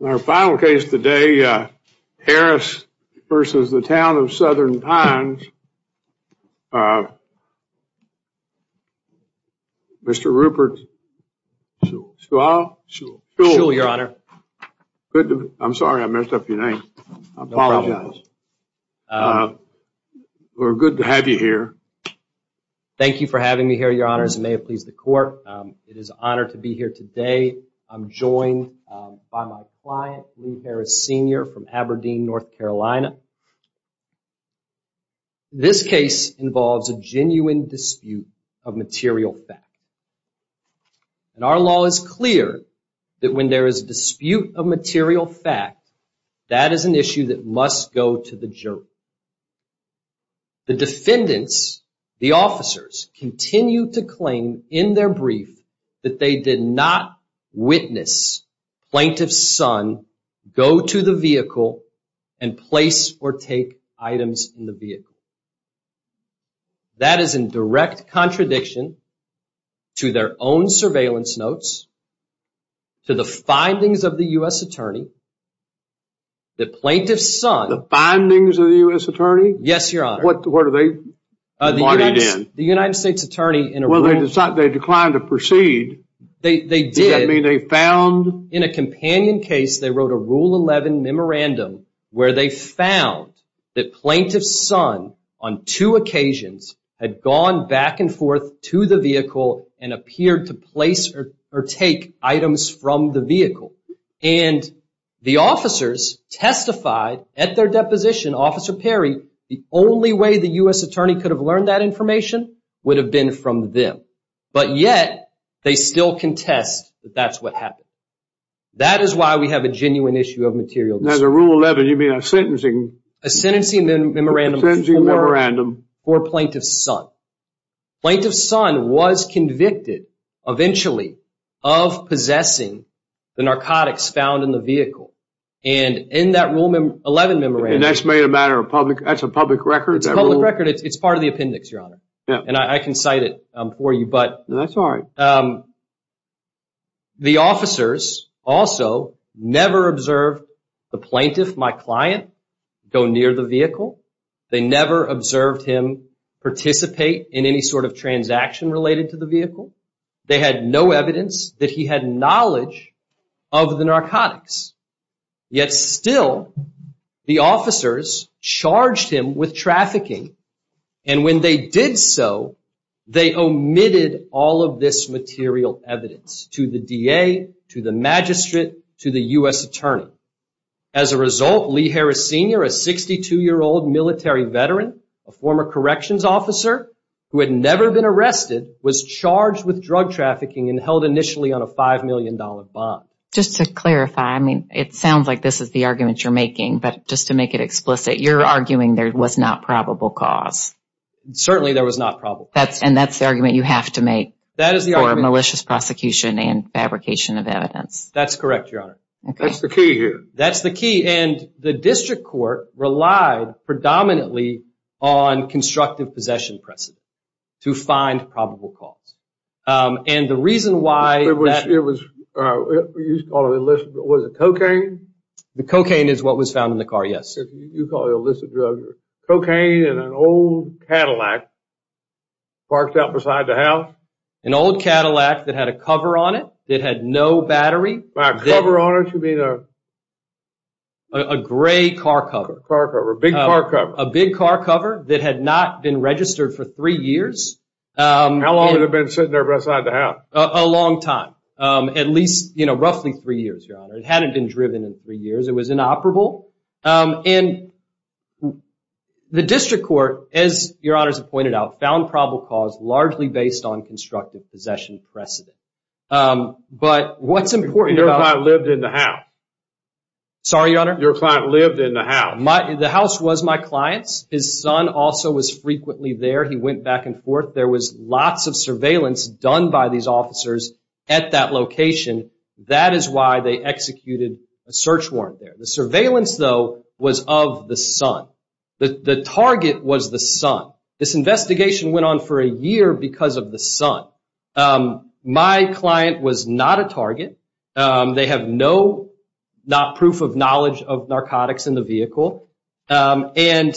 In our final case today, Harris v. Town of Southern Pines, Mr. Rupert Shule, I'm sorry I messed up your name, I apologize, we're good to have you here. Thank you for having me here, Your Honor, as it may have pleased the court. It is an honor to be here today. I'm joined by my client, Lou Harris, Sr. from Aberdeen, North Carolina. This case involves a genuine dispute of material fact. Our law is clear that when there is a dispute of material fact, that is an issue that must go to the jury. The defendants, the officers, continue to claim in their brief that they did not witness Plaintiff's son go to the vehicle and place or take items in the vehicle. That is in direct contradiction to their own surveillance notes, to the findings of the U.S. Attorney, that Plaintiff's son... The findings of the U.S. Attorney? Yes, Your Honor. What are they? The United States Attorney... Well, they declined to proceed. They did. Does that mean they found... In a companion case, they wrote a Rule 11 memorandum where they found that Plaintiff's son, on two occasions, had gone back and forth to the vehicle and appeared to place or take items from the vehicle. And the officers testified at their deposition, Officer Perry, the only way the U.S. Attorney could have learned that information would have been from them. But yet, they still contest that that's what happened. That is why we have a genuine issue of material dispute. Now, the Rule 11, you mean a sentencing... A sentencing memorandum for Plaintiff's son. Plaintiff's son was convicted, eventually, of possessing the narcotics found in the vehicle. And in that Rule 11 memorandum... And that's made a matter of public... That's a public record? It's a public record. It's part of the appendix, Your Honor. And I can cite it for you, but... That's all right. The officers also never observed the Plaintiff, my client, go near the vehicle. They never observed him participate in any sort of transaction related to the vehicle. They had no evidence that he had knowledge of the narcotics. Yet, still, the officers charged him with trafficking. And when they did so, they omitted all of this material evidence to the DA, to the magistrate, to the U.S. attorney. As a result, Lee Harris Sr., a 62-year-old military veteran, a former corrections officer who had never been arrested, was charged with drug trafficking and held initially on a $5 million bond. Just to clarify, I mean, it sounds like this is the argument you're making, but just to make it explicit, you're arguing there was not probable cause. Certainly, there was not probable cause. And that's the argument you have to make for malicious prosecution and fabrication of evidence. That's correct, Your Honor. That's the key here. That's the key. And the district court relied predominantly on constructive possession precedent to find probable cause. And the reason why... It was cocaine? The cocaine is what was found in the car, yes. You call it illicit drugs. Cocaine in an old Cadillac parked out beside the house? An old Cadillac that had a cover on it that had no battery. By a cover on it, you mean a... A gray car cover. A car cover, a big car cover. A big car cover that had not been registered for three years. How long had it been sitting there beside the house? A long time. At least, you know, roughly three years, Your Honor. It hadn't been driven in three years. It was inoperable. And the district court, as Your Honor has pointed out, found probable cause largely based on constructive possession precedent. But what's important about... Your client lived in the house. Sorry, Your Honor? Your client lived in the house. The house was my client's. His son also was frequently there. He went back and forth. There was lots of surveillance done by these officers at that location. That is why they executed a search warrant there. The surveillance, though, was of the son. The target was the son. This investigation went on for a year because of the son. My client was not a target. They have no proof of knowledge of narcotics in the vehicle. And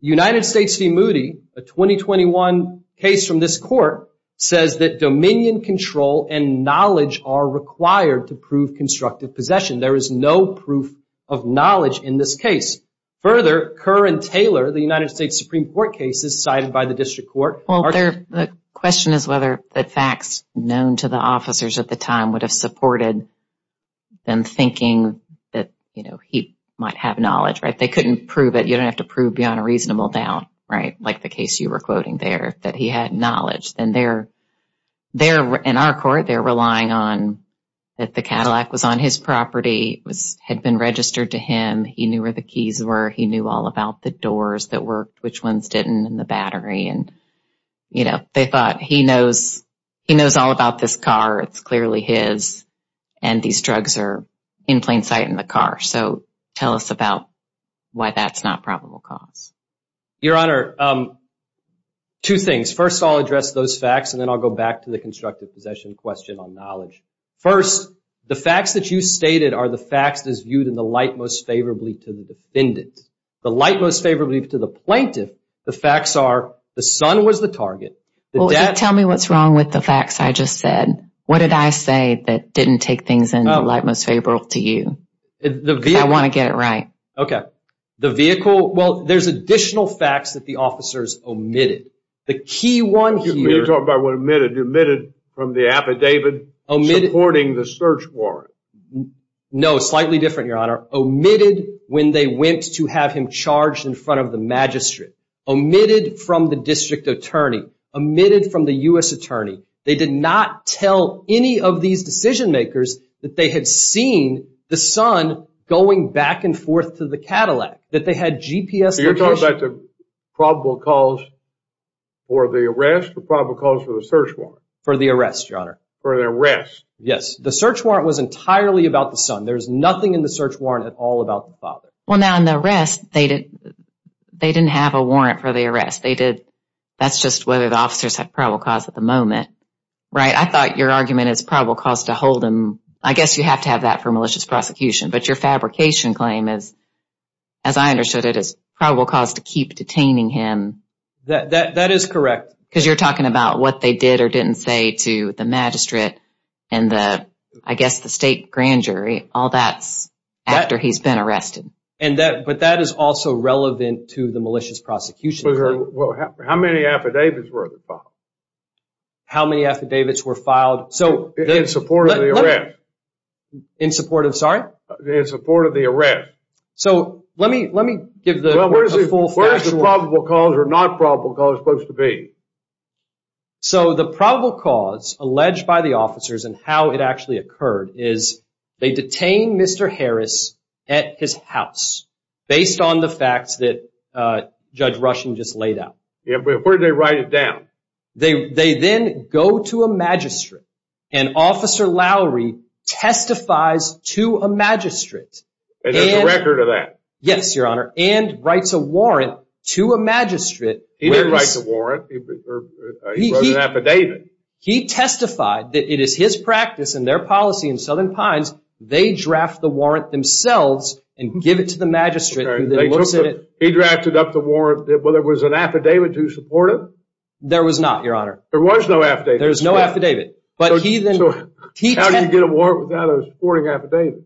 United States v. Moody, a 2021 case from this court, says that dominion, control, and knowledge are required to prove constructive possession. There is no proof of knowledge in this case. Further, Kerr and Taylor, the United States Supreme Court cases cited by the district court... Well, the question is whether the facts known to the officers at the time would have supported them thinking that, you know, he might have knowledge, right? They couldn't prove it. You don't have to prove beyond a reasonable doubt, right, like the case you were quoting there, that he had knowledge. In our court, they're relying on that the Cadillac was on his property, had been registered to him. He knew where the keys were. He knew all about the doors that worked, which ones didn't, and the battery. And, you know, they thought he knows all about this car. It's clearly his. And these drugs are in plain sight in the car. So tell us about why that's not probable cause. Your Honor, two things. First, I'll address those facts, and then I'll go back to the constructive possession question on knowledge. First, the facts that you stated are the facts that's viewed in the light most favorably to the defendant. The light most favorably to the plaintiff, the facts are the son was the target. Well, tell me what's wrong with the facts I just said. What did I say that didn't take things in the light most favorably to you? I want to get it right. Okay. The vehicle. Well, there's additional facts that the officers omitted. The key one here. You're talking about what omitted. You omitted from the affidavit supporting the search warrant. No, slightly different, Your Honor. Omitted when they went to have him charged in front of the magistrate. Omitted from the district attorney. Omitted from the U.S. attorney. They did not tell any of these decision makers that they had seen the son going back and forth to the Cadillac, that they had GPS information. So you're talking about the probable cause for the arrest or probable cause for the search warrant? For the arrest, Your Honor. For the arrest. Yes. The search warrant was entirely about the son. There's nothing in the search warrant at all about the father. Well, now, in the arrest, they didn't have a warrant for the arrest. That's just whether the officers had probable cause at the moment, right? I thought your argument is probable cause to hold him. I guess you have to have that for malicious prosecution. But your fabrication claim is, as I understood it, is probable cause to keep detaining him. That is correct. Because you're talking about what they did or didn't say to the magistrate and, I guess, the state grand jury. All that's after he's been arrested. But that is also relevant to the malicious prosecution. How many affidavits were there filed? How many affidavits were filed? In support of the arrest. In support of, sorry? In support of the arrest. So, let me give the full facts. Where is the probable cause or not probable cause supposed to be? So, the probable cause alleged by the officers and how it actually occurred is they detained Mr. Harris at his house based on the facts that Judge Rushing just laid out. Where did they write it down? They then go to a magistrate and Officer Lowry testifies to a magistrate. And there's a record of that? Yes, Your Honor. And writes a warrant to a magistrate. He didn't write the warrant. He wrote an affidavit. He testified that it is his practice and their policy in Southern Pines, they draft the warrant themselves and give it to the magistrate who then looks at it. He drafted up the warrant. Well, there was an affidavit to support it? There was not, Your Honor. There was no affidavit? There was no affidavit. So, how do you get a warrant without a supporting affidavit?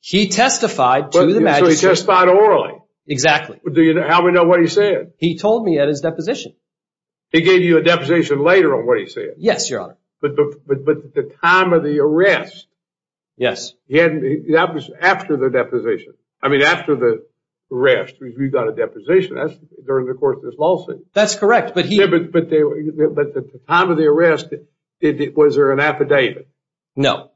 He testified to the magistrate. So, he testified orally? Exactly. How do we know what he said? He told me at his deposition. He gave you a deposition later on what he said? Yes, Your Honor. But the time of the arrest? Yes. That was after the deposition. I mean, after the arrest. We've got a deposition. That's during the course of this lawsuit. That's correct. But the time of the arrest, was there an affidavit? No.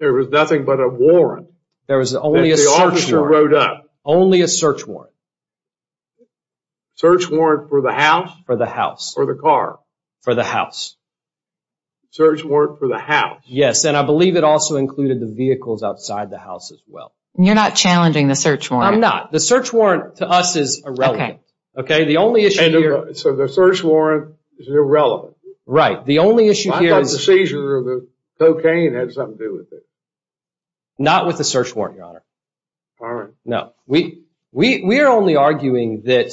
There was nothing but a warrant? There was only a search warrant. And the officer wrote up? Only a search warrant. Search warrant for the house? For the house. Or the car? For the house. Search warrant for the house? Yes. And I believe it also included the vehicles outside the house as well. You're not challenging the search warrant? I'm not. The search warrant to us is irrelevant. Okay. The only issue here... So, the search warrant is irrelevant? Right. The only issue here is... I thought the seizure of the cocaine had something to do with it. Not with the search warrant, Your Honor. All right. No. We are only arguing that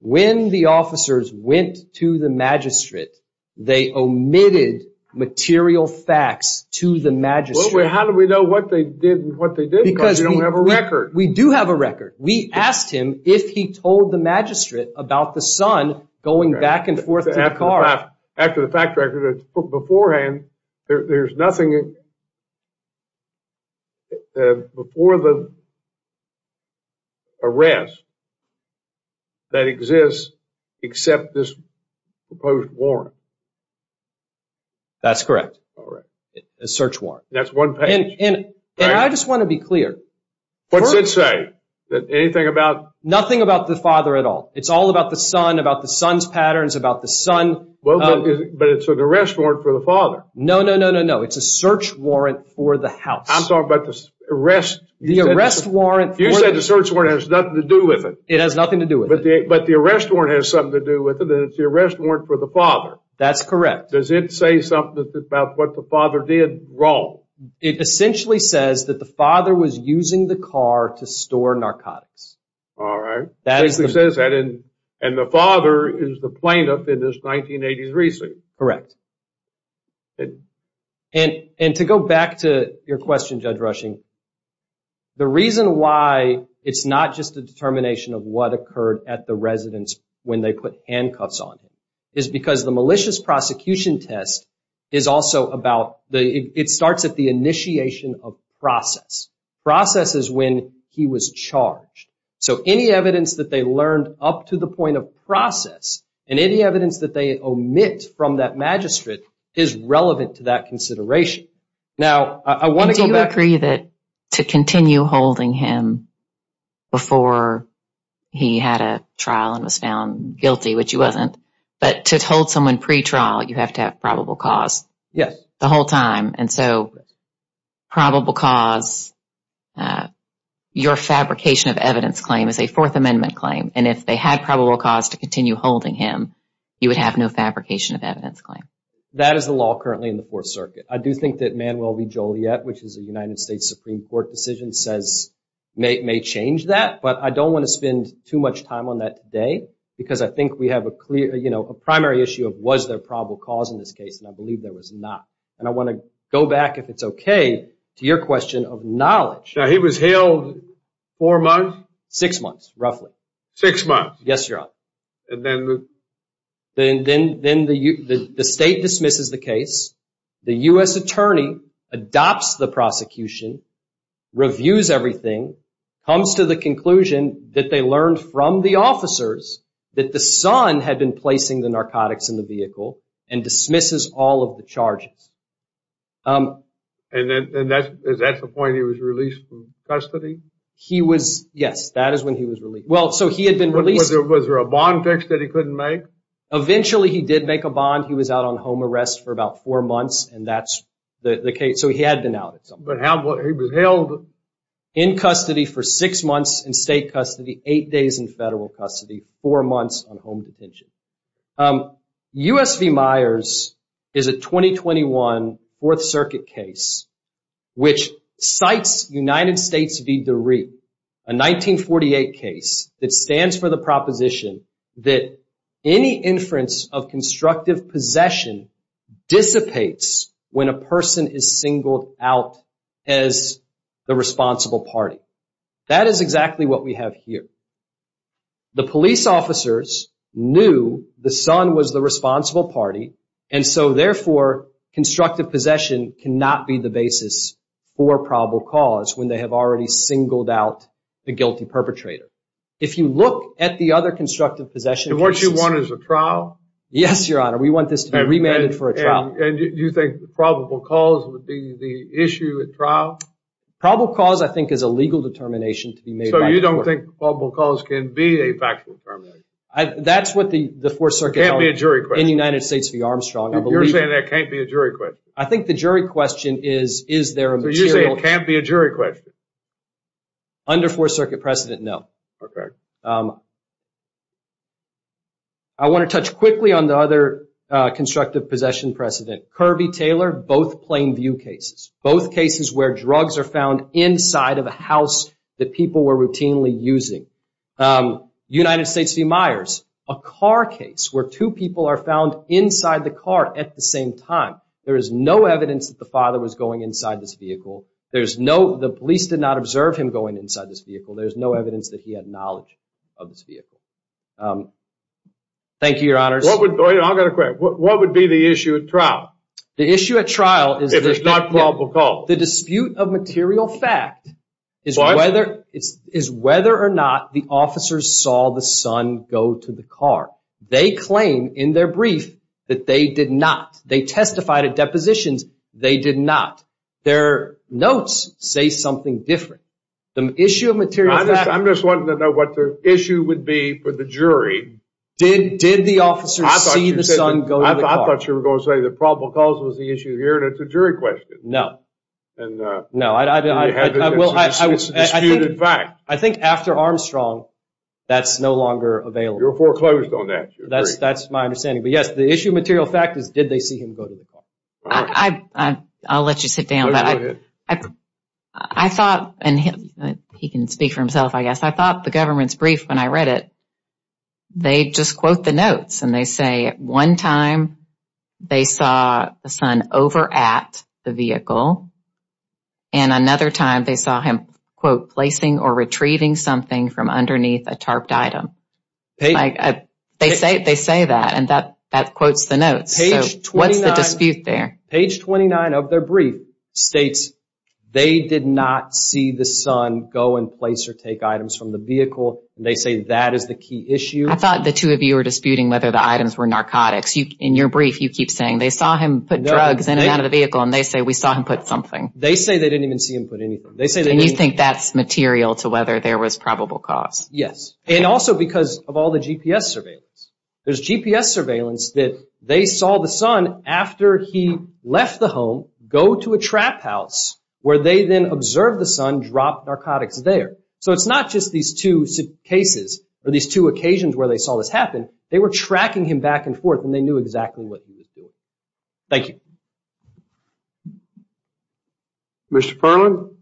when the officers went to the magistrate, they omitted material facts to the magistrate. Well, how do we know what they did and what they didn't? Because we don't have a record. We do have a record. We asked him if he told the magistrate about the son going back and forth to the car. After the fact record beforehand, there's nothing before the arrest that exists except this proposed warrant. That's correct. All right. A search warrant. That's one page. And I just want to be clear. What's it say? Anything about... Nothing about the father at all. It's all about the son, about the son's patterns, about the son... But it's an arrest warrant for the father. No, no, no, no, no. It's a search warrant for the house. I'm talking about the arrest... The arrest warrant... You said the search warrant has nothing to do with it. It has nothing to do with it. But the arrest warrant has something to do with it, and it's the arrest warrant for the father. That's correct. Does it say something about what the father did wrong? It essentially says that the father was using the car to store narcotics. All right. It basically says that, and the father is the plaintiff in this 1980s receipt. Correct. And to go back to your question, Judge Rushing, the reason why it's not just a determination of what occurred at the residence when they put handcuffs on him is because the malicious prosecution test is also about... It starts at the initiation of process. Process is when he was charged. So any evidence that they learned up to the point of process and any evidence that they omit from that magistrate is relevant to that consideration. Now, I want to go back... Do you agree that to continue holding him before he had a trial and was found guilty, which he wasn't, but to hold someone pretrial, you have to have probable cause? Yes. The whole time, and so probable cause, your fabrication of evidence claim is a Fourth Amendment claim, and if they had probable cause to continue holding him, you would have no fabrication of evidence claim. That is the law currently in the Fourth Circuit. I do think that Manuel V. Joliet, which is a United States Supreme Court decision, says it may change that, but I don't want to spend too much time on that today because I think we have a primary issue of was there probable cause in this case, and I believe there was not. And I want to go back, if it's okay, to your question of knowledge. Now, he was held four months? Six months, roughly. Six months. Yes, Your Honor. And then the... Then the state dismisses the case. The U.S. attorney adopts the prosecution, reviews everything, comes to the conclusion that they learned from the officers that the son had been placing the narcotics in the vehicle and dismisses all of the charges. And is that the point? He was released from custody? Yes, that is when he was released. Well, so he had been released. Was there a bond fix that he couldn't make? Eventually he did make a bond. He was out on home arrest for about four months, and that's the case. So he had been out. But he was held? In custody for six months in state custody, eight days in federal custody, four months on home detention. U.S. v. Myers is a 2021 Fourth Circuit case which cites United States v. DeRee, a 1948 case that stands for the proposition that any inference of constructive possession dissipates when a person is singled out as the responsible party. That is exactly what we have here. The police officers knew the son was the responsible party, and so therefore constructive possession cannot be the basis for probable cause when they have already singled out the guilty perpetrator. If you look at the other constructive possession cases… And what you want is a trial? Yes, Your Honor. We want this to be remanded for a trial. And you think probable cause would be the issue at trial? You don't think probable cause can be a factual determination? That's what the Fourth Circuit held… It can't be a jury question? …in United States v. Armstrong. You're saying it can't be a jury question? I think the jury question is, is there a material… So you're saying it can't be a jury question? Under Fourth Circuit precedent, no. Okay. I want to touch quickly on the other constructive possession precedent. Kirby Taylor, both plain view cases. Both cases where drugs are found inside of a house that people were routinely using. United States v. Myers, a car case where two people are found inside the car at the same time. There is no evidence that the father was going inside this vehicle. The police did not observe him going inside this vehicle. There's no evidence that he had knowledge of this vehicle. Thank you, Your Honors. I've got a question. What would be the issue at trial? If it's not probable cause. The dispute of material fact is whether or not the officers saw the son go to the car. They claim in their brief that they did not. They testified at depositions. They did not. Their notes say something different. The issue of material fact… I'm just wanting to know what the issue would be for the jury. Did the officers see the son go to the car? I thought you were going to say the probable cause was the issue here and it's a jury question. No. No, I think after Armstrong, that's no longer available. You're foreclosed on that. That's my understanding. But, yes, the issue of material fact is did they see him go to the car. I'll let you sit down. Go ahead. I thought, and he can speak for himself, I guess, I thought the government's brief when I read it, they just quote the notes and they say at one time they saw the son over at the vehicle and another time they saw him, quote, placing or retrieving something from underneath a tarped item. They say that and that quotes the notes. So, what's the dispute there? Page 29 of their brief states they did not see the son go and place or take items from the vehicle. They say that is the key issue. I thought the two of you were disputing whether the items were narcotics. In your brief, you keep saying they saw him put drugs in and out of the vehicle and they say we saw him put something. They say they didn't even see him put anything. And you think that's material to whether there was probable cause? Yes, and also because of all the GPS surveillance. There's GPS surveillance that they saw the son after he left the home go to a trap house where they then observed the son drop narcotics there. So, it's not just these two cases or these two occasions where they saw this happen. They were tracking him back and forth and they knew exactly what he was doing. Thank you. Mr. Perlin?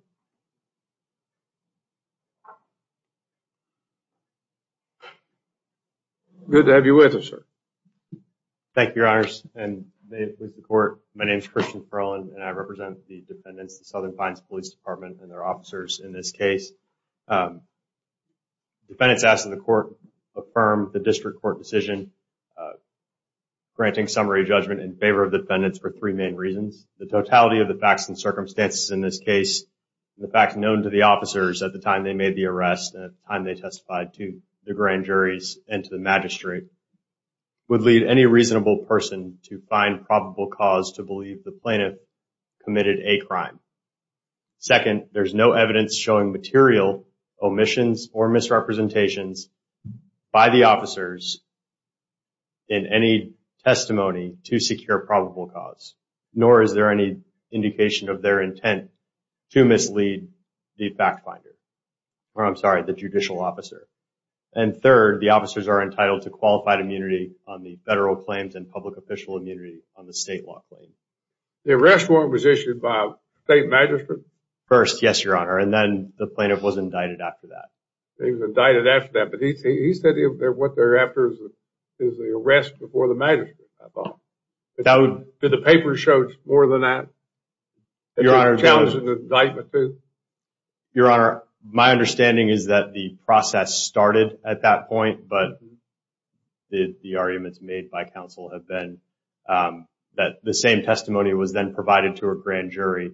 Good to have you with us, sir. Thank you, Your Honors, and may it please the Court, my name is Christian Perlin and I represent the defendants of the Southern Fines Police Department and their officers in this case. Defendants ask that the Court affirm the district court decision, granting summary judgment in favor of defendants for three main reasons. The totality of the facts and circumstances in this case, the facts known to the officers at the time they made the arrest and at the time they testified to the grand juries and to the magistrate, would lead any reasonable person to find probable cause to believe the plaintiff committed a crime. Second, there's no evidence showing material omissions or misrepresentations by the officers in any testimony to secure probable cause, nor is there any indication of their intent to mislead the fact finder, or I'm sorry, the judicial officer. And third, the officers are entitled to qualified immunity on the federal claims and public official immunity on the state law claims. The arrest warrant was issued by a state magistrate? First, yes, Your Honor, and then the plaintiff was indicted after that. He was indicted after that, but he said what they're after is the arrest before the magistrate. Did the paper show more than that? Your Honor, my understanding is that the process started at that point, but the arguments made by counsel have been that the same testimony was then provided to a grand jury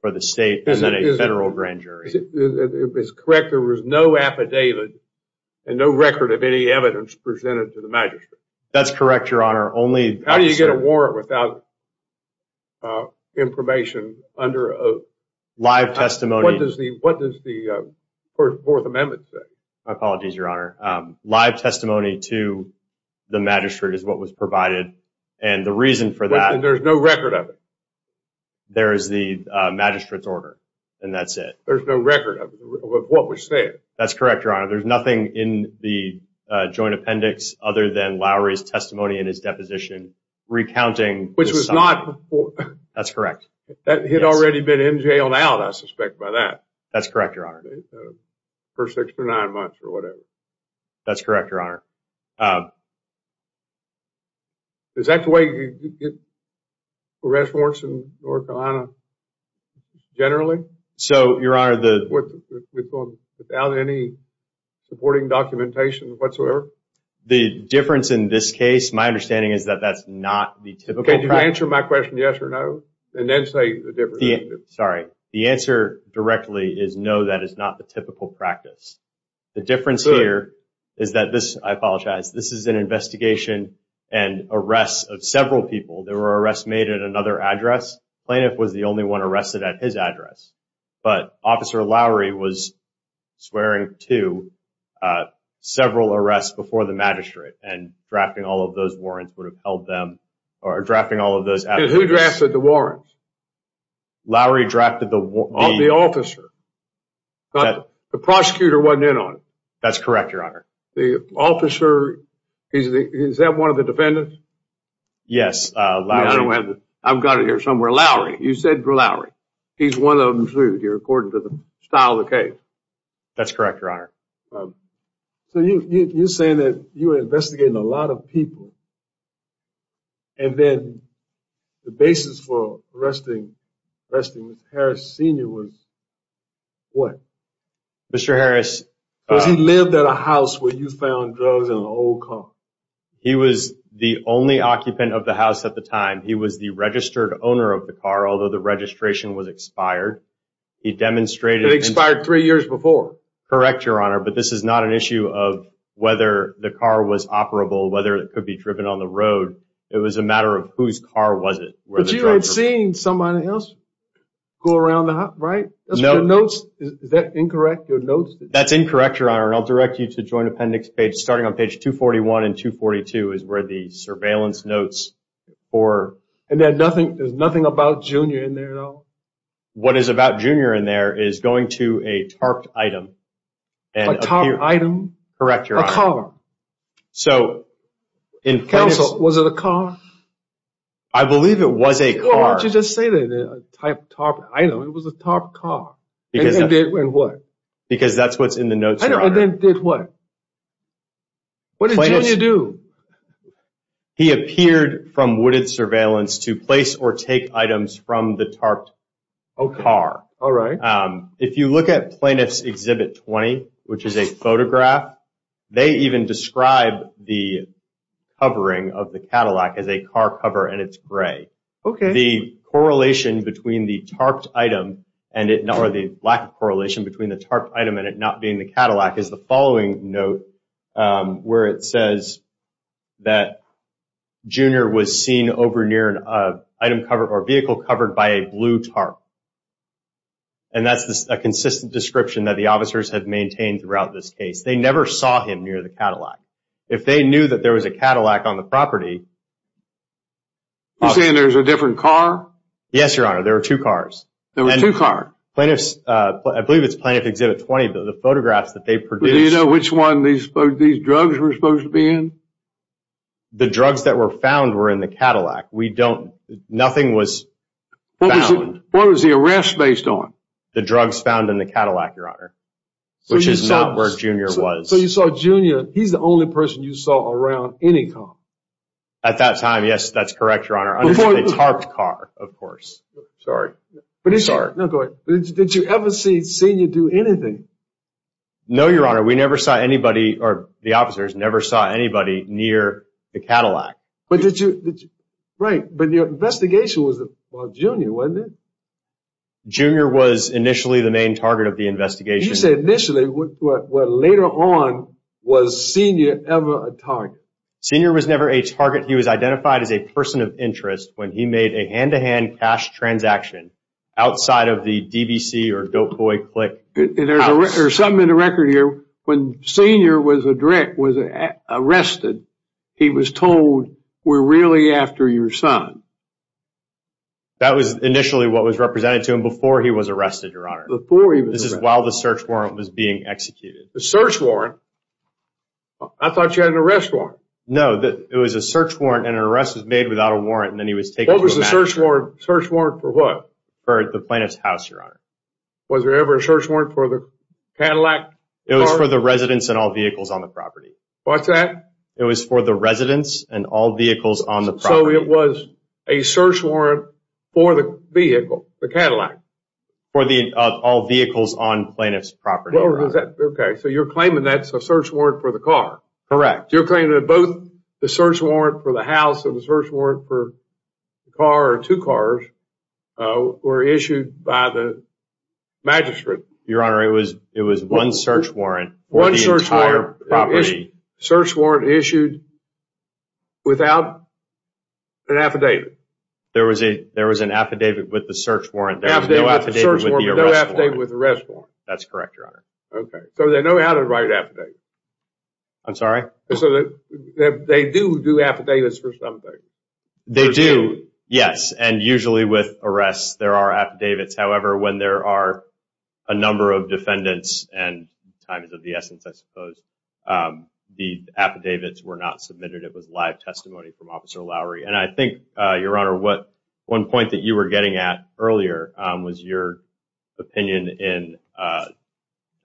for the state and then a federal grand jury. Is it correct there was no affidavit and no record of any evidence presented to the magistrate? That's correct, Your Honor. How do you get a warrant without information under oath? Live testimony. What does the Fourth Amendment say? My apologies, Your Honor. Live testimony to the magistrate is what was provided, and the reason for that— There's no record of it? There is the magistrate's order, and that's it. There's no record of what was said? That's correct, Your Honor. There's nothing in the joint appendix other than Lowry's testimony in his deposition recounting— Which was not— That's correct. That had already been in jail and out, I suspect, by that. That's correct, Your Honor. For six to nine months or whatever. That's correct, Your Honor. Is that the way you get arrest warrants in North Carolina generally? So, Your Honor, the— Without any supporting documentation whatsoever? The difference in this case, my understanding is that that's not the typical— Can you answer my question yes or no, and then say the difference? Sorry. The answer directly is no, that is not the typical practice. The difference here is that this—I apologize. This is an investigation and arrests of several people. There were arrests made at another address. Plaintiff was the only one arrested at his address. But Officer Lowry was swearing to several arrests before the magistrate, and drafting all of those warrants would have held them— or drafting all of those— Who drafted the warrants? Lowry drafted the— The officer. The prosecutor wasn't in on it. That's correct, Your Honor. The officer—is that one of the defendants? Yes, Lowry— I've got it here somewhere. Lowry. You said Lowry. He's one of them, too, according to the style of the case. That's correct, Your Honor. So you're saying that you were investigating a lot of people, and then the basis for arresting Mr. Harris Sr. was what? Mr. Harris— Because he lived at a house where you found drugs in an old car. He was the only occupant of the house at the time. He was the registered owner of the car, although the registration was expired. He demonstrated— It expired three years before. Correct, Your Honor, but this is not an issue of whether the car was operable, whether it could be driven on the road. It was a matter of whose car was it. But you had seen somebody else go around the house, right? No. Is that incorrect, your notes? That's incorrect, Your Honor, and I'll direct you to the Joint Appendix page. Starting on page 241 and 242 is where the surveillance notes for— And there's nothing about Jr. in there at all? No. What is about Jr. in there is going to a tarped item. A tarped item? Correct, Your Honor. A car. So— Counsel, was it a car? I believe it was a car. Why don't you just say that it was a tarped item? It was a tarped car. And did what? Because that's what's in the notes, Your Honor. And then did what? What did Jr. do? He appeared from wooded surveillance to place or take items from the tarped car. All right. If you look at Plaintiff's Exhibit 20, which is a photograph, they even describe the covering of the Cadillac as a car cover and it's gray. Okay. The correlation between the tarped item and it not— or the lack of correlation between the tarped item and it not being the Cadillac is the following note where it says that Jr. was seen over near an item cover or vehicle covered by a blue tarp. And that's a consistent description that the officers have maintained throughout this case. They never saw him near the Cadillac. If they knew that there was a Cadillac on the property— You're saying there was a different car? Yes, Your Honor. There were two cars. There were two cars. I believe it's Plaintiff's Exhibit 20. The photographs that they produced— Do you know which one these drugs were supposed to be in? The drugs that were found were in the Cadillac. We don't—nothing was found. What was the arrest based on? The drugs found in the Cadillac, Your Honor, which is not where Jr. was. So you saw Jr. He's the only person you saw around any car? At that time, yes, that's correct, Your Honor. A tarped car, of course. I'm sorry. No, go ahead. Did you ever see Sr. do anything? No, Your Honor. We never saw anybody—or the officers never saw anybody near the Cadillac. But did you—right. But your investigation was about Jr., wasn't it? Jr. was initially the main target of the investigation. You said initially. Well, later on, was Sr. ever a target? Sr. was never a target. He was identified as a person of interest when he made a hand-to-hand cash transaction outside of the DBC or Dope Boy Click house. There's something in the record here. When Sr. was arrested, he was told, we're really after your son. That was initially what was represented to him before he was arrested, Your Honor. Before he was arrested. This is while the search warrant was being executed. The search warrant? I thought you had an arrest warrant. No, it was a search warrant, and an arrest was made without a warrant, and then he was taken to the— What was the search warrant for what? For the plaintiff's house, Your Honor. Was there ever a search warrant for the Cadillac car? It was for the residence and all vehicles on the property. What's that? It was for the residence and all vehicles on the property. So it was a search warrant for the vehicle, the Cadillac? For all vehicles on plaintiff's property, Your Honor. Okay, so you're claiming that's a search warrant for the car. Correct. You're claiming that both the search warrant for the house and the search warrant for the car or two cars were issued by the magistrate. Your Honor, it was one search warrant for the entire property. One search warrant issued without an affidavit. There was an affidavit with the search warrant. There was no affidavit with the arrest warrant. No affidavit with the arrest warrant. That's correct, Your Honor. Okay, so they know how to write affidavits. I'm sorry? They do do affidavits for something. They do, yes, and usually with arrests there are affidavits. However, when there are a number of defendants and times of the essence, I suppose, the affidavits were not submitted. It was live testimony from Officer Lowry. And I think, Your Honor, one point that you were getting at earlier was your opinion in, I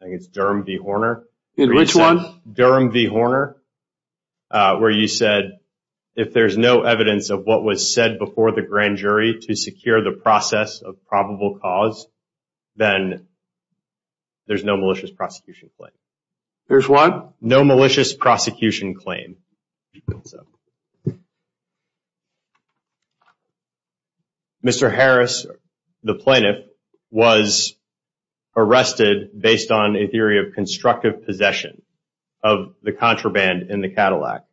think it's Durham v. Horner. Which one? Durham v. Horner where you said if there's no evidence of what was said before the grand jury to secure the process of probable cause, then there's no malicious prosecution claim. There's what? No malicious prosecution claim. Mr. Harris, the plaintiff, was arrested based on a theory of constructive possession of the contraband in the Cadillac.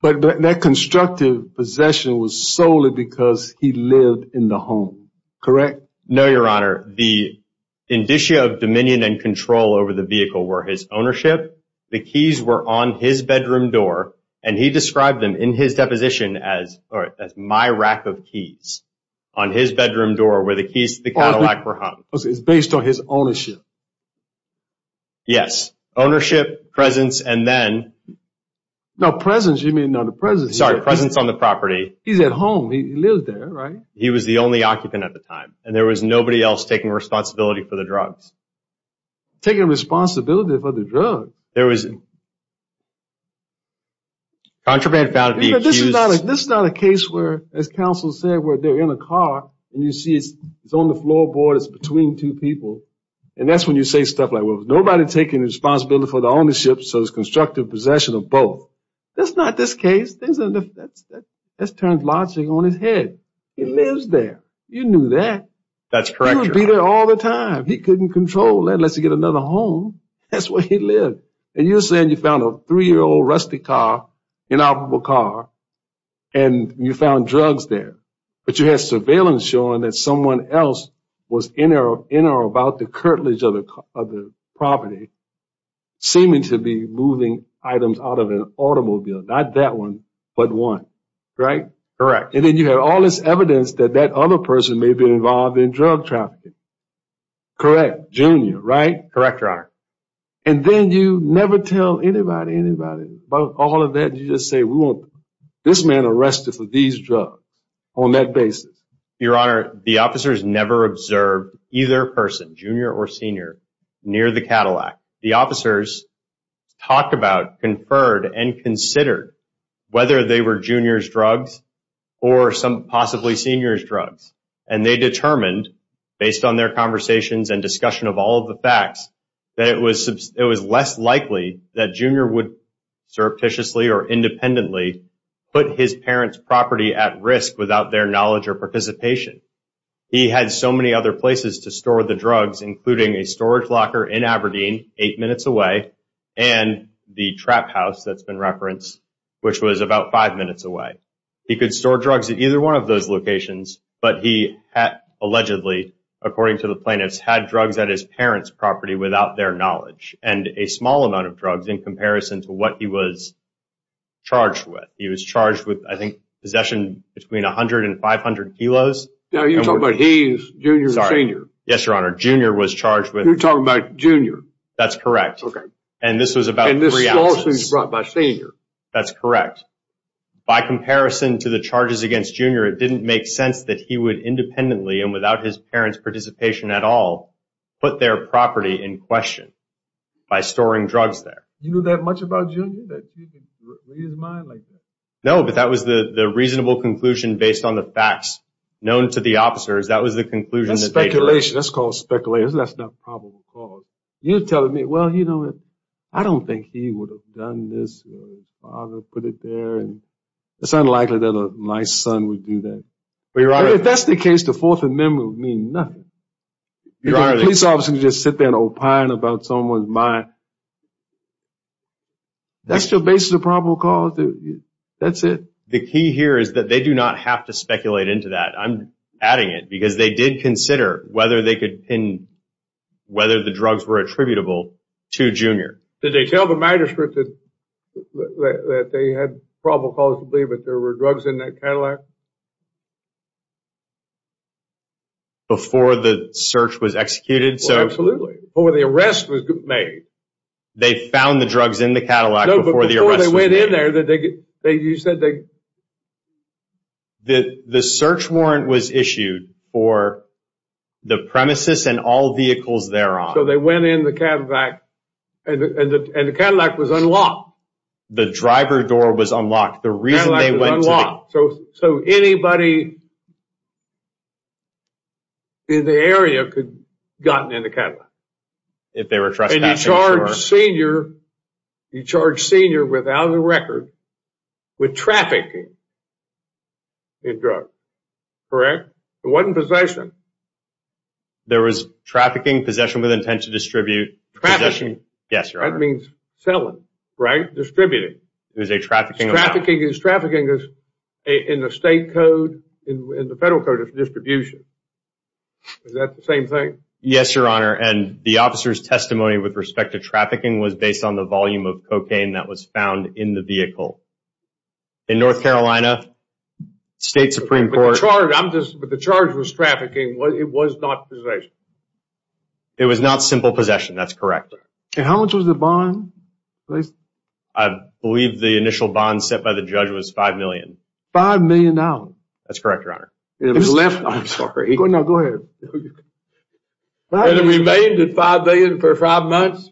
But that constructive possession was solely because he lived in the home, correct? No, Your Honor. The indicia of dominion and control over the vehicle were his ownership, the keys were on his bedroom door, and he described them in his deposition as my rack of keys on his bedroom door where the keys to the Cadillac were hung. It's based on his ownership. Yes, ownership, presence, and then. No, presence, you mean not a presence. Sorry, presence on the property. He's at home. He lived there, right? He was the only occupant at the time, and there was nobody else taking responsibility for the drugs. Contraband found to be accused. This is not a case where, as counsel said, where they're in a car and you see it's on the floorboard, it's between two people, and that's when you say stuff like, well, nobody taking responsibility for the ownership, so it's constructive possession of both. That's not this case. That's turned logic on its head. He lives there. You knew that. That's correct, Your Honor. He would be there all the time. He couldn't control it. Unless he got another home, that's where he lived. And you're saying you found a three-year-old rusty car, inoperable car, and you found drugs there. But you had surveillance showing that someone else was in or about the curtilage of the property, seeming to be moving items out of an automobile, not that one but one, right? Correct. And then you have all this evidence that that other person may have been involved in drug trafficking. Correct. Junior, right? Correct, Your Honor. And then you never tell anybody about all of that. You just say, well, this man arrested for these drugs on that basis. Your Honor, the officers never observed either person, junior or senior, near the Cadillac. The officers talked about, conferred, and considered whether they were junior's drugs or some possibly senior's drugs. And they determined, based on their conversations and discussion of all of the facts, that it was less likely that junior would surreptitiously or independently put his parents' property at risk without their knowledge or participation. He had so many other places to store the drugs, including a storage locker in Aberdeen, eight minutes away, and the trap house that's been referenced, which was about five minutes away. He could store drugs at either one of those locations, but he allegedly, according to the plaintiffs, had drugs at his parents' property without their knowledge, and a small amount of drugs in comparison to what he was charged with. He was charged with, I think, possession between 100 and 500 kilos. Now, you're talking about he's junior or senior. Sorry. Yes, Your Honor. Junior was charged with... You're talking about junior. That's correct. And this was about three ounces. And this small suit was brought by senior. That's correct. By comparison to the charges against junior, it didn't make sense that he would independently and without his parents' participation at all put their property in question by storing drugs there. You knew that much about junior that you could read his mind like that? No, but that was the reasonable conclusion based on the facts known to the officers. That was the conclusion that they drew. That's speculation. That's called speculation. That's not probable cause. You're telling me, well, you know, I don't think he would have done this or his father put it there. It's unlikely that a nice son would do that. But, Your Honor... If that's the case, the Fourth Amendment would mean nothing. You're right. A police officer can just sit there and opine about someone's mind. That's your basis of probable cause? That's it? The key here is that they do not have to speculate into that. I'm adding it because they did consider whether they could pin whether the drugs were attributable to junior. Did they tell the magistrate that they had probable cause to believe that there were drugs in that Cadillac? Before the search was executed? Well, absolutely. Before the arrest was made. They found the drugs in the Cadillac before the arrest was made. No, but before they went in there, you said they... The search warrant was issued for the premises and all vehicles thereon. So, they went in the Cadillac and the Cadillac was unlocked. The driver door was unlocked. The Cadillac was unlocked. So, anybody in the area could have gotten in the Cadillac. If they were trespassing or... And you charge senior without a record with trafficking in drugs. Correct? It wasn't possession. There was trafficking, possession with intent to distribute, possession... Trafficking. Yes, Your Honor. That means selling, right? Distributing. It was a trafficking... Trafficking is trafficking in the state code, in the federal code of distribution. Is that the same thing? Yes, Your Honor. And the officer's testimony with respect to trafficking was based on the volume of cocaine that was found in the vehicle. In North Carolina, State Supreme Court... The charge was trafficking. It was not possession. It was not simple possession. That's correct. And how much was the bond? I believe the initial bond set by the judge was $5 million. $5 million? That's correct, Your Honor. It was left... I'm sorry. No, go ahead. And it remained at $5 million for five months?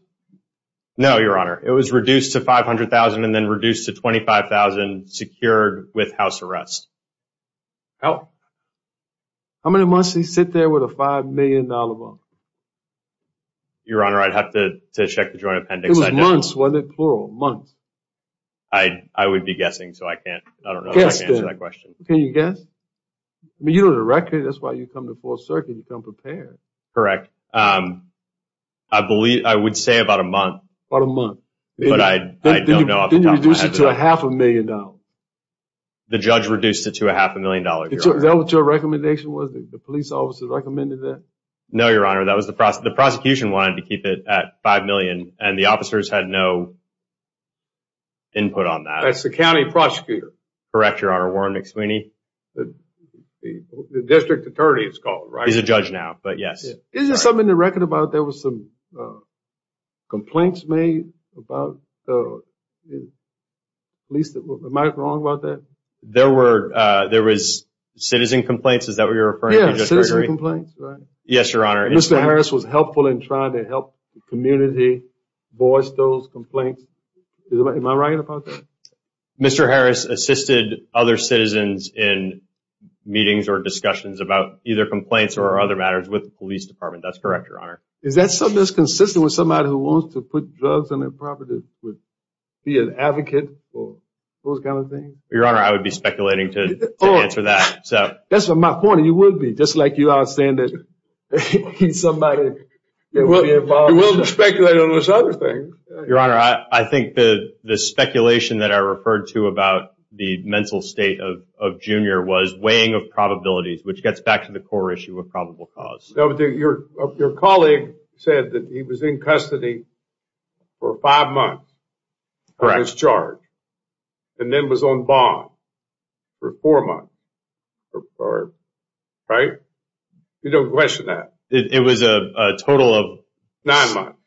No, Your Honor. It was reduced to $500,000 and then reduced to $25,000, secured with house arrest. Oh. How many months did he sit there with a $5 million bond? Your Honor, I'd have to check the joint appendix. It was months, wasn't it? Plural, months. I would be guessing, so I can't... I don't know if I can answer that question. Can you guess? I mean, you know the record. That's why you come to the Fourth Circuit. You come prepared. Correct. I believe... I would say about a month. About a month. But I don't know... Then you reduced it to a half a million dollars. The judge reduced it to a half a million dollars, Your Honor. Is that what your recommendation was? The police officer recommended that? No, Your Honor. That was the... The prosecution wanted to keep it at $5 million, and the officers had no input on that. That's the county prosecutor. Correct, Your Honor. Warren McSweeney. The district attorney, it's called, right? He's a judge now, but yes. Isn't something in the record about there was some complaints made about the police? Am I wrong about that? There were... There was citizen complaints. Is that what you're referring to, Judge Gregory? Yeah, citizen complaints, right? Yes, Your Honor. Mr. Harris was helpful in trying to help the community voice those complaints. Am I right about that? Mr. Harris assisted other citizens in meetings or discussions about either complaints or other matters with the police department. That's correct, Your Honor. Is that something that's consistent with somebody who wants to put drugs on their property, would be an advocate for those kind of things? Your Honor, I would be speculating to answer that. That's my point. You would be, just like you are saying that he's somebody that would be involved. You will be speculating on those other things. Your Honor, I think the speculation that I referred to about the mental state of Junior was weighing of probabilities, which gets back to the core issue of probable cause. Your colleague said that he was in custody for five months on his charge, and then was on bond for four months, right? You don't question that. It was a total of... Nine months.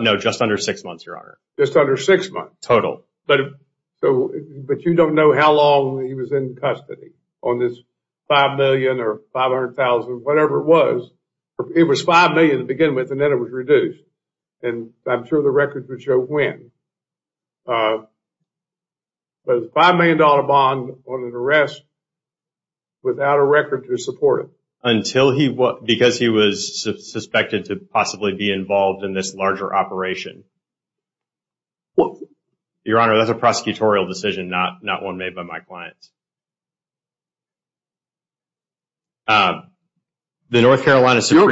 No, just under six months, Your Honor. Just under six months. Total. But you don't know how long he was in custody on this $5 million or $500,000, whatever it was. It was $5 million to begin with, and then it was reduced. I'm sure the records would show when. But a $5 million bond on an arrest without a record to support it. Because he was suspected to possibly be involved in this larger operation. Your Honor, that's a prosecutorial decision, not one made by my clients. Your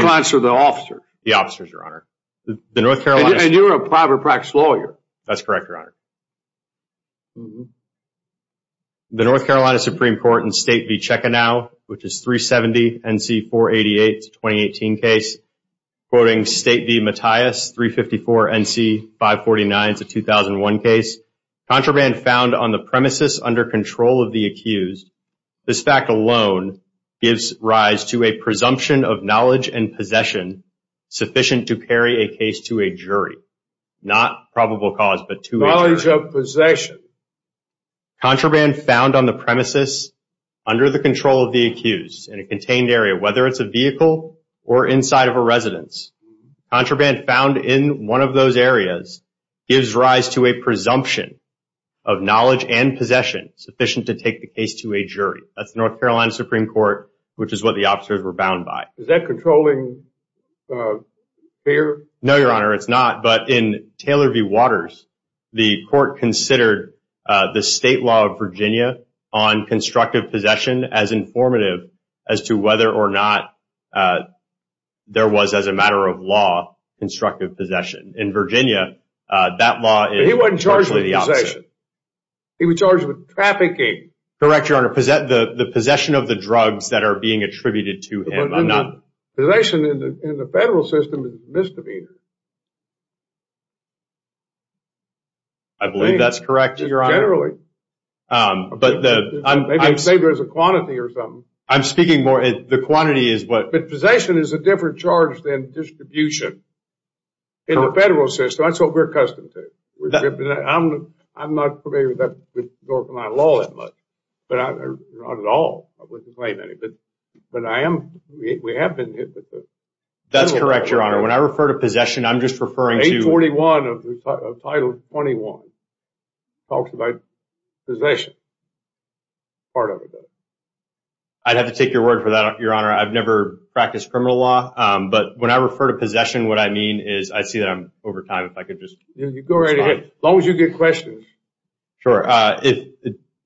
clients are the officers. The officers, Your Honor. And you're a private practice lawyer. That's correct, Your Honor. The North Carolina Supreme Court in State v. Checkanow, which is 370 N.C. 488, 2018 case, quoting State v. Mattias, 354 N.C. 549, 2001 case, contraband found on the premises under control of the accused. This fact alone gives rise to a presumption of knowledge and possession sufficient to carry a case to a jury. Not probable cause, but to a jury. Knowledge of possession. Contraband found on the premises under the control of the accused in a contained area, whether it's a vehicle or inside of a residence. Contraband found in one of those areas gives rise to a presumption of knowledge and possession sufficient to take the case to a jury. That's the North Carolina Supreme Court, which is what the officers were bound by. Is that controlling fair? No, Your Honor, it's not. But in Taylor v. Waters, the court considered the state law of Virginia on constructive possession as informative as to whether or not there was, as a matter of law, constructive possession. In Virginia, that law is virtually the opposite. He wasn't charged with possession. He was charged with trafficking. Correct, Your Honor. The possession of the drugs that are being attributed to him. Possession in the federal system is misdemeanor. I believe that's correct, Your Honor. Generally. But the... Maybe they say there's a quantity or something. I'm speaking more... The quantity is what... But possession is a different charge than distribution in the federal system. That's what we're accustomed to. I'm not familiar with North Carolina law that much. Not at all. But I am... We have been... That's correct, Your Honor. When I refer to possession, I'm just referring to... 841 of Title 21 talks about possession. Part of it does. I'd have to take your word for that, Your Honor. I've never practiced criminal law. But when I refer to possession, what I mean is... I see that I'm over time. If I could just... Go right ahead. As long as you get questions. Sure.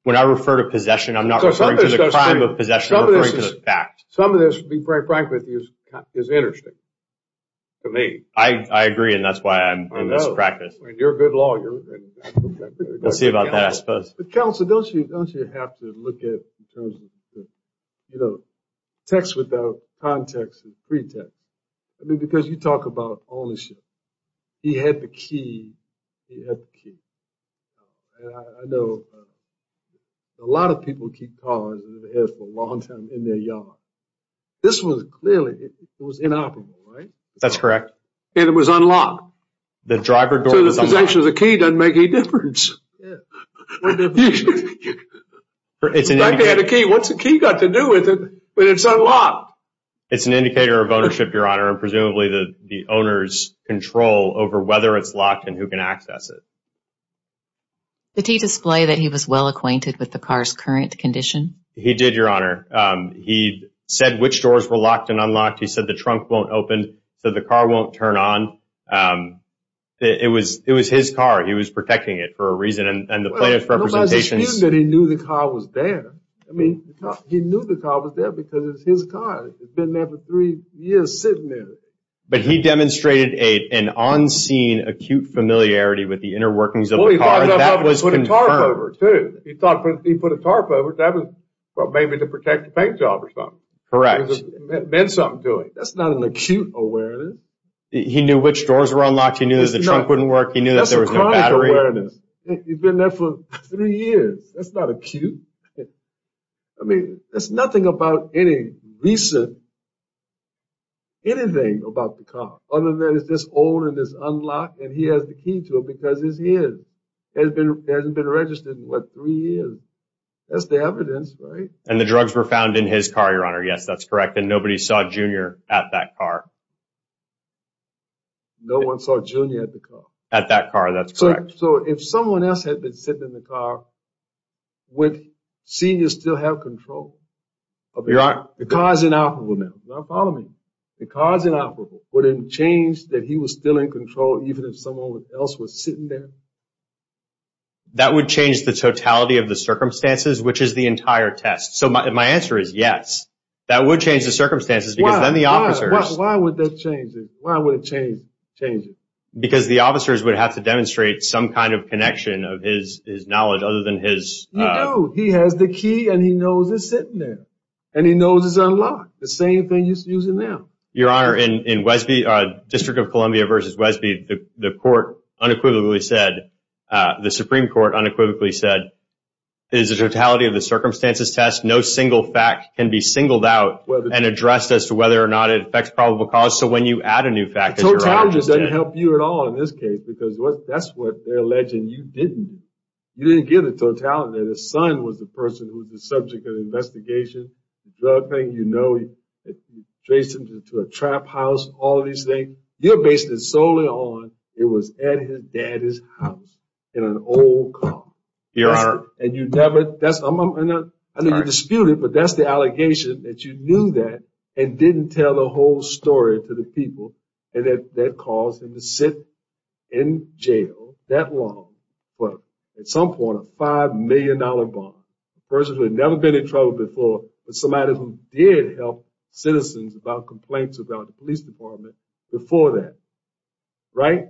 When I refer to possession, I'm not referring to the crime of possession. I'm referring to the fact. Some of this, to be quite frank with you, is interesting. To me. I agree, and that's why I'm in this practice. You're a good lawyer. We'll see about that, I suppose. Counsel, don't you have to look at... Texts without context is pretext. I mean, because you talk about ownership. He had the key. He had the key. I know a lot of people keep cars in their heads for a long time in their yard. This was clearly, it was inoperable, right? That's correct. And it was unlocked. The driver door was unlocked. So the possession of the key doesn't make any difference. Yeah. What difference does it make? He had the key. What's the key got to do with it when it's unlocked? It's an indicator of ownership, Your Honor, and presumably the owner's control over whether it's locked and who can access it. Did he display that he was well acquainted with the car's current condition? He did, Your Honor. He said which doors were locked and unlocked. He said the trunk won't open. He said the car won't turn on. It was his car. He was protecting it for a reason, and the plaintiff's representations... Well, nobody's disputing that he knew the car was there. I mean, he knew the car was there because it's his car. It's been there for three years sitting there. But he demonstrated an on-scene, acute familiarity with the inner workings of the car. Well, he put a tarp over it, too. He put a tarp over it. That was maybe to protect the paint job or something. Correct. It meant something to him. That's not an acute awareness. He knew which doors were unlocked. He knew that the trunk wouldn't work. He knew that there was no battery. That's a chronic awareness. He's been there for three years. That's not acute. I mean, there's nothing about any recent... anything about the car other than it's this old and it's unlocked, and he has the key to it because it's his. It hasn't been registered in, what, three years. That's the evidence, right? And the drugs were found in his car, Your Honor. Yes, that's correct. And nobody saw Junior at that car. No one saw Junior at the car. At that car. That's correct. So if someone else had been sitting in the car, would Senior still have control? Your Honor... The car's inoperable now. Now, follow me. The car's inoperable. Would it change that he was still in control even if someone else was sitting there? That would change the totality of the circumstances, which is the entire test. So my answer is yes. That would change the circumstances because then the officers... Why? Why would that change it? Why would it change it? Because the officers would have to demonstrate some kind of connection of his knowledge other than his... You do. He has the key, and he knows it's sitting there, and he knows it's unlocked. The same thing used to use it now. Your Honor, in Westby, District of Columbia v. Westby, the court unequivocally said, the Supreme Court unequivocally said, it is the totality of the circumstances test. No single fact can be singled out and addressed as to whether or not it affects probable cause. So when you add a new fact... The totality doesn't help you at all in this case because that's what they're alleging you didn't do. You didn't give the totality. The son was the person who was the subject of the investigation. The drug thing, you know, traced him to a trap house, all these things. You're based solely on it was at his dad's house in an old car. Your Honor... And you never... I know you dispute it, but that's the allegation, that you knew that and didn't tell the whole story to the people and that caused him to sit in jail that long for, at some point, a $5 million bond. A person who had never been in trouble before, but somebody who did help citizens about complaints about the police department before that. Right?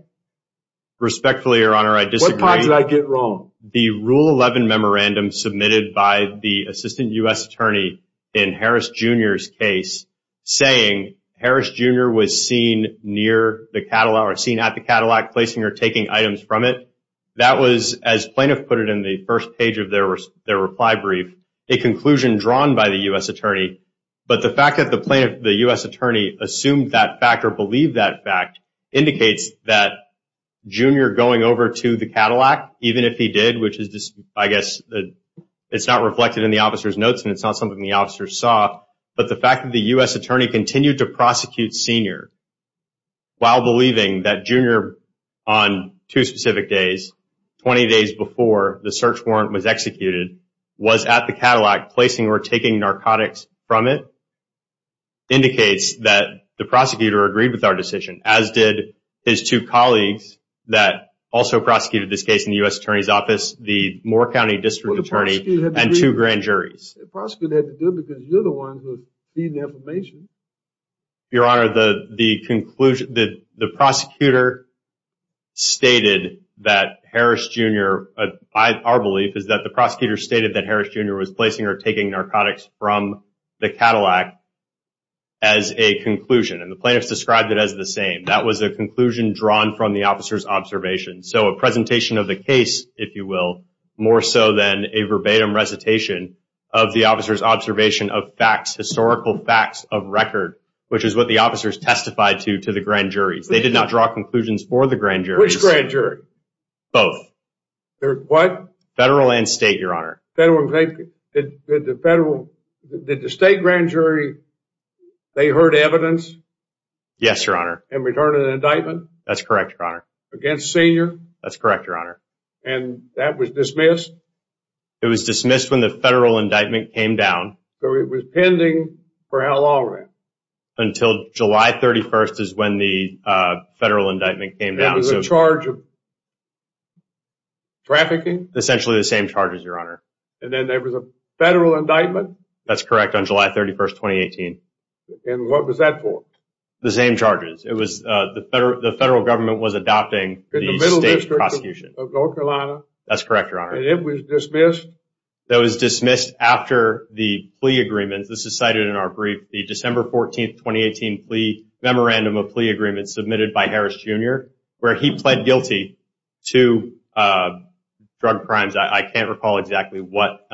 Respectfully, Your Honor, I disagree. What parts did I get wrong? The Rule 11 memorandum submitted by the assistant U.S. attorney in Harris Jr.'s case saying, Harris Jr. was seen at the Cadillac placing or taking items from it. That was, as plaintiff put it in the first page of their reply brief, a conclusion drawn by the U.S. attorney. But the fact that the U.S. attorney assumed that fact or believed that fact indicates that Jr. going over to the Cadillac, even if he did, which is, I guess, it's not reflected in the officer's notes and it's not something the officer saw, but the fact that the U.S. attorney continued to prosecute Sr. while believing that Jr. on two specific days, 20 days before the search warrant was executed, was at the Cadillac placing or taking narcotics from it, indicates that the prosecutor agreed with our decision, as did his two colleagues that also prosecuted this case in the U.S. attorney's office, the Moore County District Attorney and two grand juries. The prosecutor had to do it because you're the one who's feeding the information. Your Honor, the prosecutor stated that Harris Jr., our belief is that the prosecutor stated that Harris Jr. was placing or taking narcotics from the Cadillac as a conclusion, and the plaintiffs described it as the same. That was a conclusion drawn from the officer's observation. So a presentation of the case, if you will, more so than a verbatim recitation of the officer's observation of facts, historical facts of record, which is what the officers testified to to the grand juries. They did not draw conclusions for the grand juries. Which grand jury? Both. What? Federal and state, Your Honor. Federal and state. Did the state grand jury, they heard evidence? Yes, Your Honor. In return of the indictment? That's correct, Your Honor. Against Sr.? That's correct, Your Honor. And that was dismissed? It was dismissed when the federal indictment came down. So it was pending for how long, then? Until July 31st is when the federal indictment came down. There was a charge of trafficking? Essentially the same charges, Your Honor. And then there was a federal indictment? That's correct, on July 31st, 2018. And what was that for? The same charges. The federal government was adopting the state prosecution. In the middle district of North Carolina? That's correct, Your Honor. And it was dismissed? That was dismissed after the plea agreement. This is cited in our brief. The December 14th, 2018 memorandum of plea agreement submitted by Harris Jr., where he pled guilty to drug crimes. I can't recall exactly what.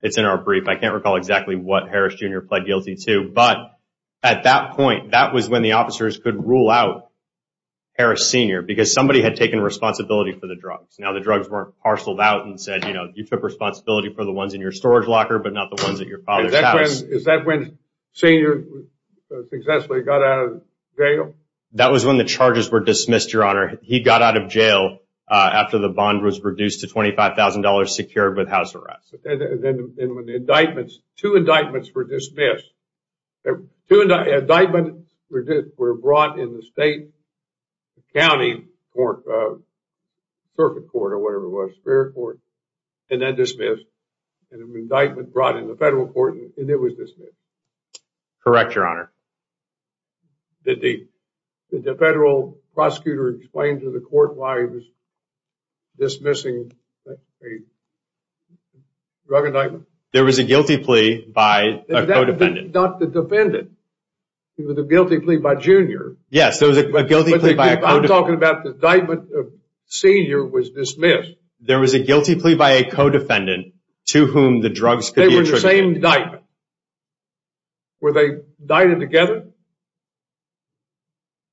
It's in our brief. I can't recall exactly what Harris Jr. pled guilty to. But at that point, that was when the officers could rule out Harris Sr. because somebody had taken responsibility for the drugs. Now the drugs weren't parceled out and said, you know, you took responsibility for the ones in your storage locker but not the ones at your father's house. Is that when Sr. successfully got out of jail? That was when the charges were dismissed, Your Honor. He got out of jail after the bond was reduced to $25,000 secured with house arrest. Two indictments were dismissed. Two indictments were brought in the state, county, circuit court or whatever it was, fair court, and then dismissed. An indictment brought in the federal court and it was dismissed. Correct, Your Honor. Did the federal prosecutor explain to the court why he was dismissing a drug indictment? There was a guilty plea by a co-defendant. Not the defendant. There was a guilty plea by Jr. Yes, there was a guilty plea by a co-defendant. I'm talking about the indictment of Sr. was dismissed. There was a guilty plea by a co-defendant to whom the drugs could be attributed. They were the same indictment. Were they indicted together?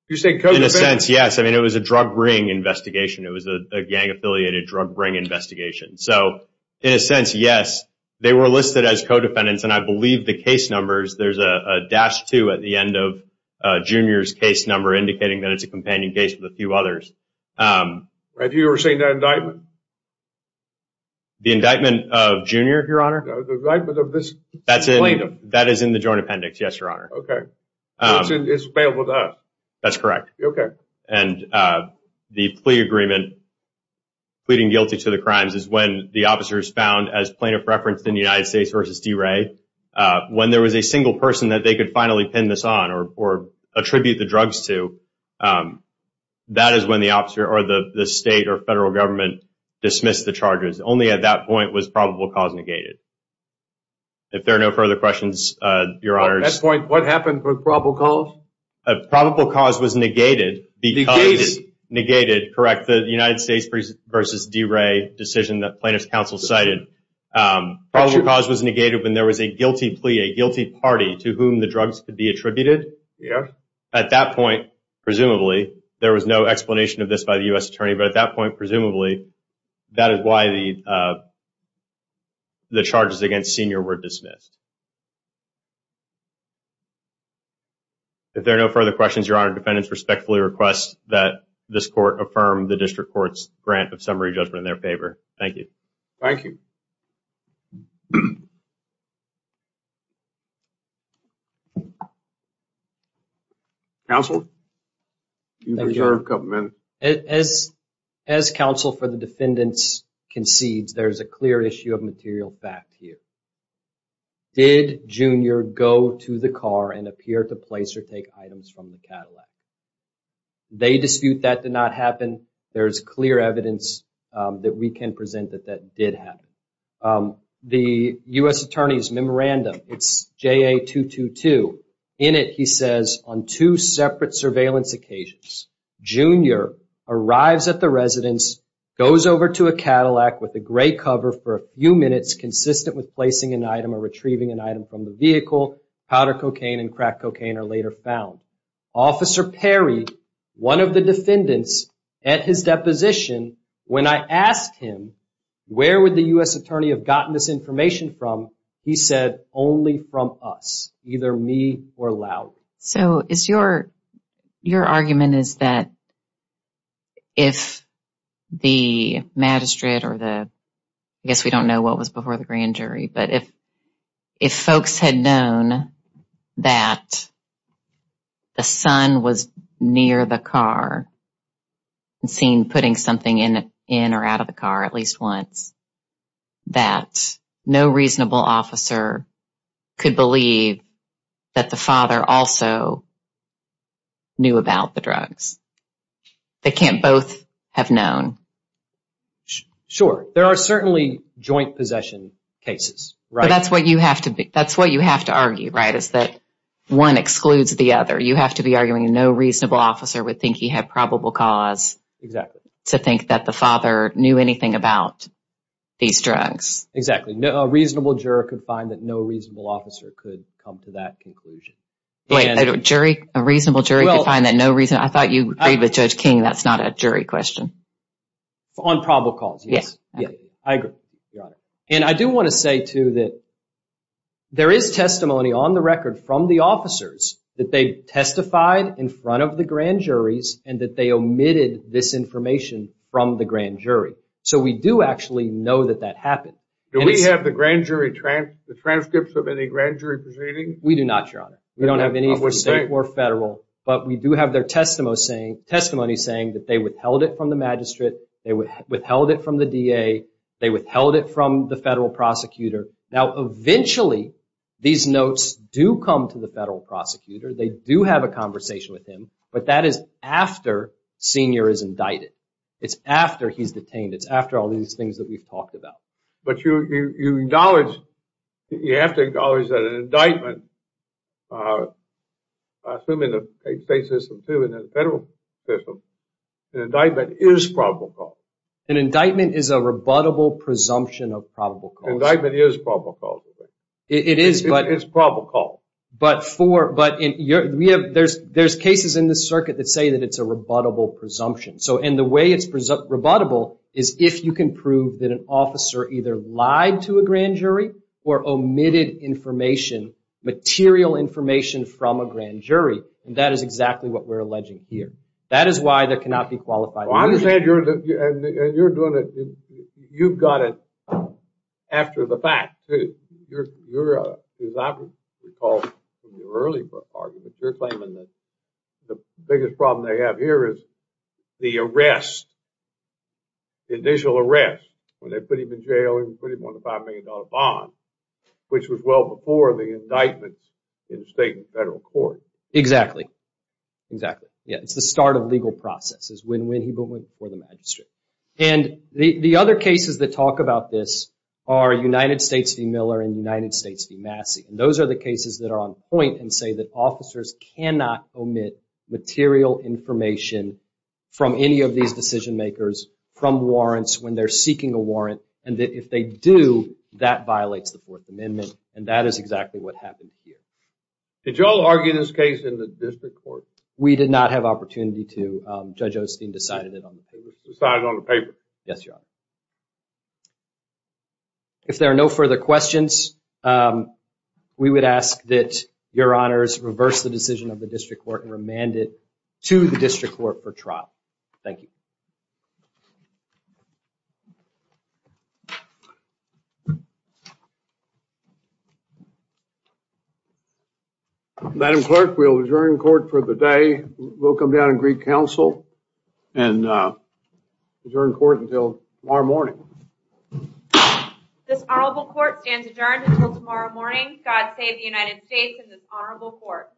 You say co-defendant? In a sense, yes. I mean, it was a drug ring investigation. It was a gang-affiliated drug ring investigation. So, in a sense, yes, they were listed as co-defendants. And I believe the case numbers, there's a dash two at the end of Jr.'s case number indicating that it's a companion case with a few others. Have you ever seen that indictment? The indictment of Jr., Your Honor? No, the indictment of this plaintiff. That is in the joint appendix, yes, Your Honor. Okay. It's available to us. That's correct. Okay. And the plea agreement pleading guilty to the crimes is when the officer is found as plaintiff referenced in the United States v. DeRay. When there was a single person that they could finally pin this on or attribute the drugs to, that is when the officer or the state or federal government dismissed the charges. Only at that point was probable cause negated. If there are no further questions, Your Honor. At that point, what happened for probable cause? Probable cause was negated because it negated, correct, the United States v. DeRay decision that plaintiff's counsel cited. Probable cause was negated when there was a guilty plea, a guilty party to whom the drugs could be attributed. At that point, presumably, there was no explanation of this by the U.S. attorney. But at that point, presumably, that is why the charges against Sr. were dismissed. If there are no further questions, Your Honor, defendants respectfully request that this court affirm the district court's grant of summary judgment in their favor. Thank you. Thank you. Counsel? As counsel for the defendants concedes, there's a clear issue of material fact here. Did Jr. go to the car and appear to place or take items from the Cadillac? They dispute that did not happen. There's clear evidence that we can present that that did happen. The U.S. attorney's memorandum, it's JA-222. In it, he says, on two separate surveillance occasions, Jr. arrives at the residence, goes over to a Cadillac with a gray cover for a few minutes, consistent with placing an item or retrieving an item from the vehicle. Powder cocaine and crack cocaine are later found. Officer Perry, one of the defendants, at his deposition, when I asked him, where would the U.S. attorney have gotten this information from, he said, only from us, either me or Lowry. So your argument is that if the magistrate or the ‑‑ I guess we don't know what was before the grand jury, but if folks had known that the son was near the car and seen putting something in or out of the car at least once, that no reasonable officer could believe that the father also knew about the drugs. They can't both have known. Sure. There are certainly joint possession cases. But that's what you have to argue, right, is that one excludes the other. You have to be arguing no reasonable officer would think he had probable cause to think that the father knew anything about these drugs. Exactly. A reasonable juror could find that no reasonable officer could come to that conclusion. Wait, a jury, a reasonable jury could find that no reasonable ‑‑ I thought you agreed with Judge King that's not a jury question. On probable cause, yes. Yes. I agree. And I do want to say, too, that there is testimony on the record from the officers that they testified in front of the grand juries and that they omitted this information from the grand jury. So we do actually know that that happened. Do we have the transcripts of any grand jury proceedings? We do not, Your Honor. We don't have any from state or federal. But we do have their testimony saying that they withheld it from the magistrate, they withheld it from the DA, they withheld it from the federal prosecutor. Now, eventually, these notes do come to the federal prosecutor. They do have a conversation with him. But that is after Senior is indicted. It's after he's detained. It's after all these things that we've talked about. But you acknowledge, you have to acknowledge that an indictment, assuming the state system, too, and the federal system, an indictment is probable cause. An indictment is a rebuttable presumption of probable cause. An indictment is probable cause. It is, but. It's probable cause. But there's cases in this circuit that say that it's a rebuttable presumption. And the way it's rebuttable is if you can prove that an officer either lied to a grand jury or omitted information, material information, from a grand jury. And that is exactly what we're alleging here. That is why there cannot be qualified evidence. I understand you're doing it. You've got it after the fact. You're, as I recall from your early argument, you're claiming that the biggest problem they have here is the arrest, the initial arrest, when they put him in jail and put him on a $5 million bond, which was well before the indictment in state and federal court. Exactly. Exactly. It's the start of legal processes, when he went before the magistrate. And the other cases that talk about this are United States v. Miller and United States v. Massey. And those are the cases that are on point and say that officers cannot omit material information from any of these decision makers from warrants when they're seeking a warrant, and that if they do, that violates the Fourth Amendment. And that is exactly what happened here. Did you all argue this case in the district court? We did not have opportunity to. Judge Osteen decided it on the paper. Decided it on the paper. Yes, Your Honor. If there are no further questions, we would ask that Your Honors reverse the decision of the district court and remand it to the district court for trial. Thank you. Madam Clerk, we'll adjourn court for the day. We'll come down and greet counsel and adjourn court until tomorrow morning. This honorable court stands adjourned until tomorrow morning. God save the United States and this honorable court.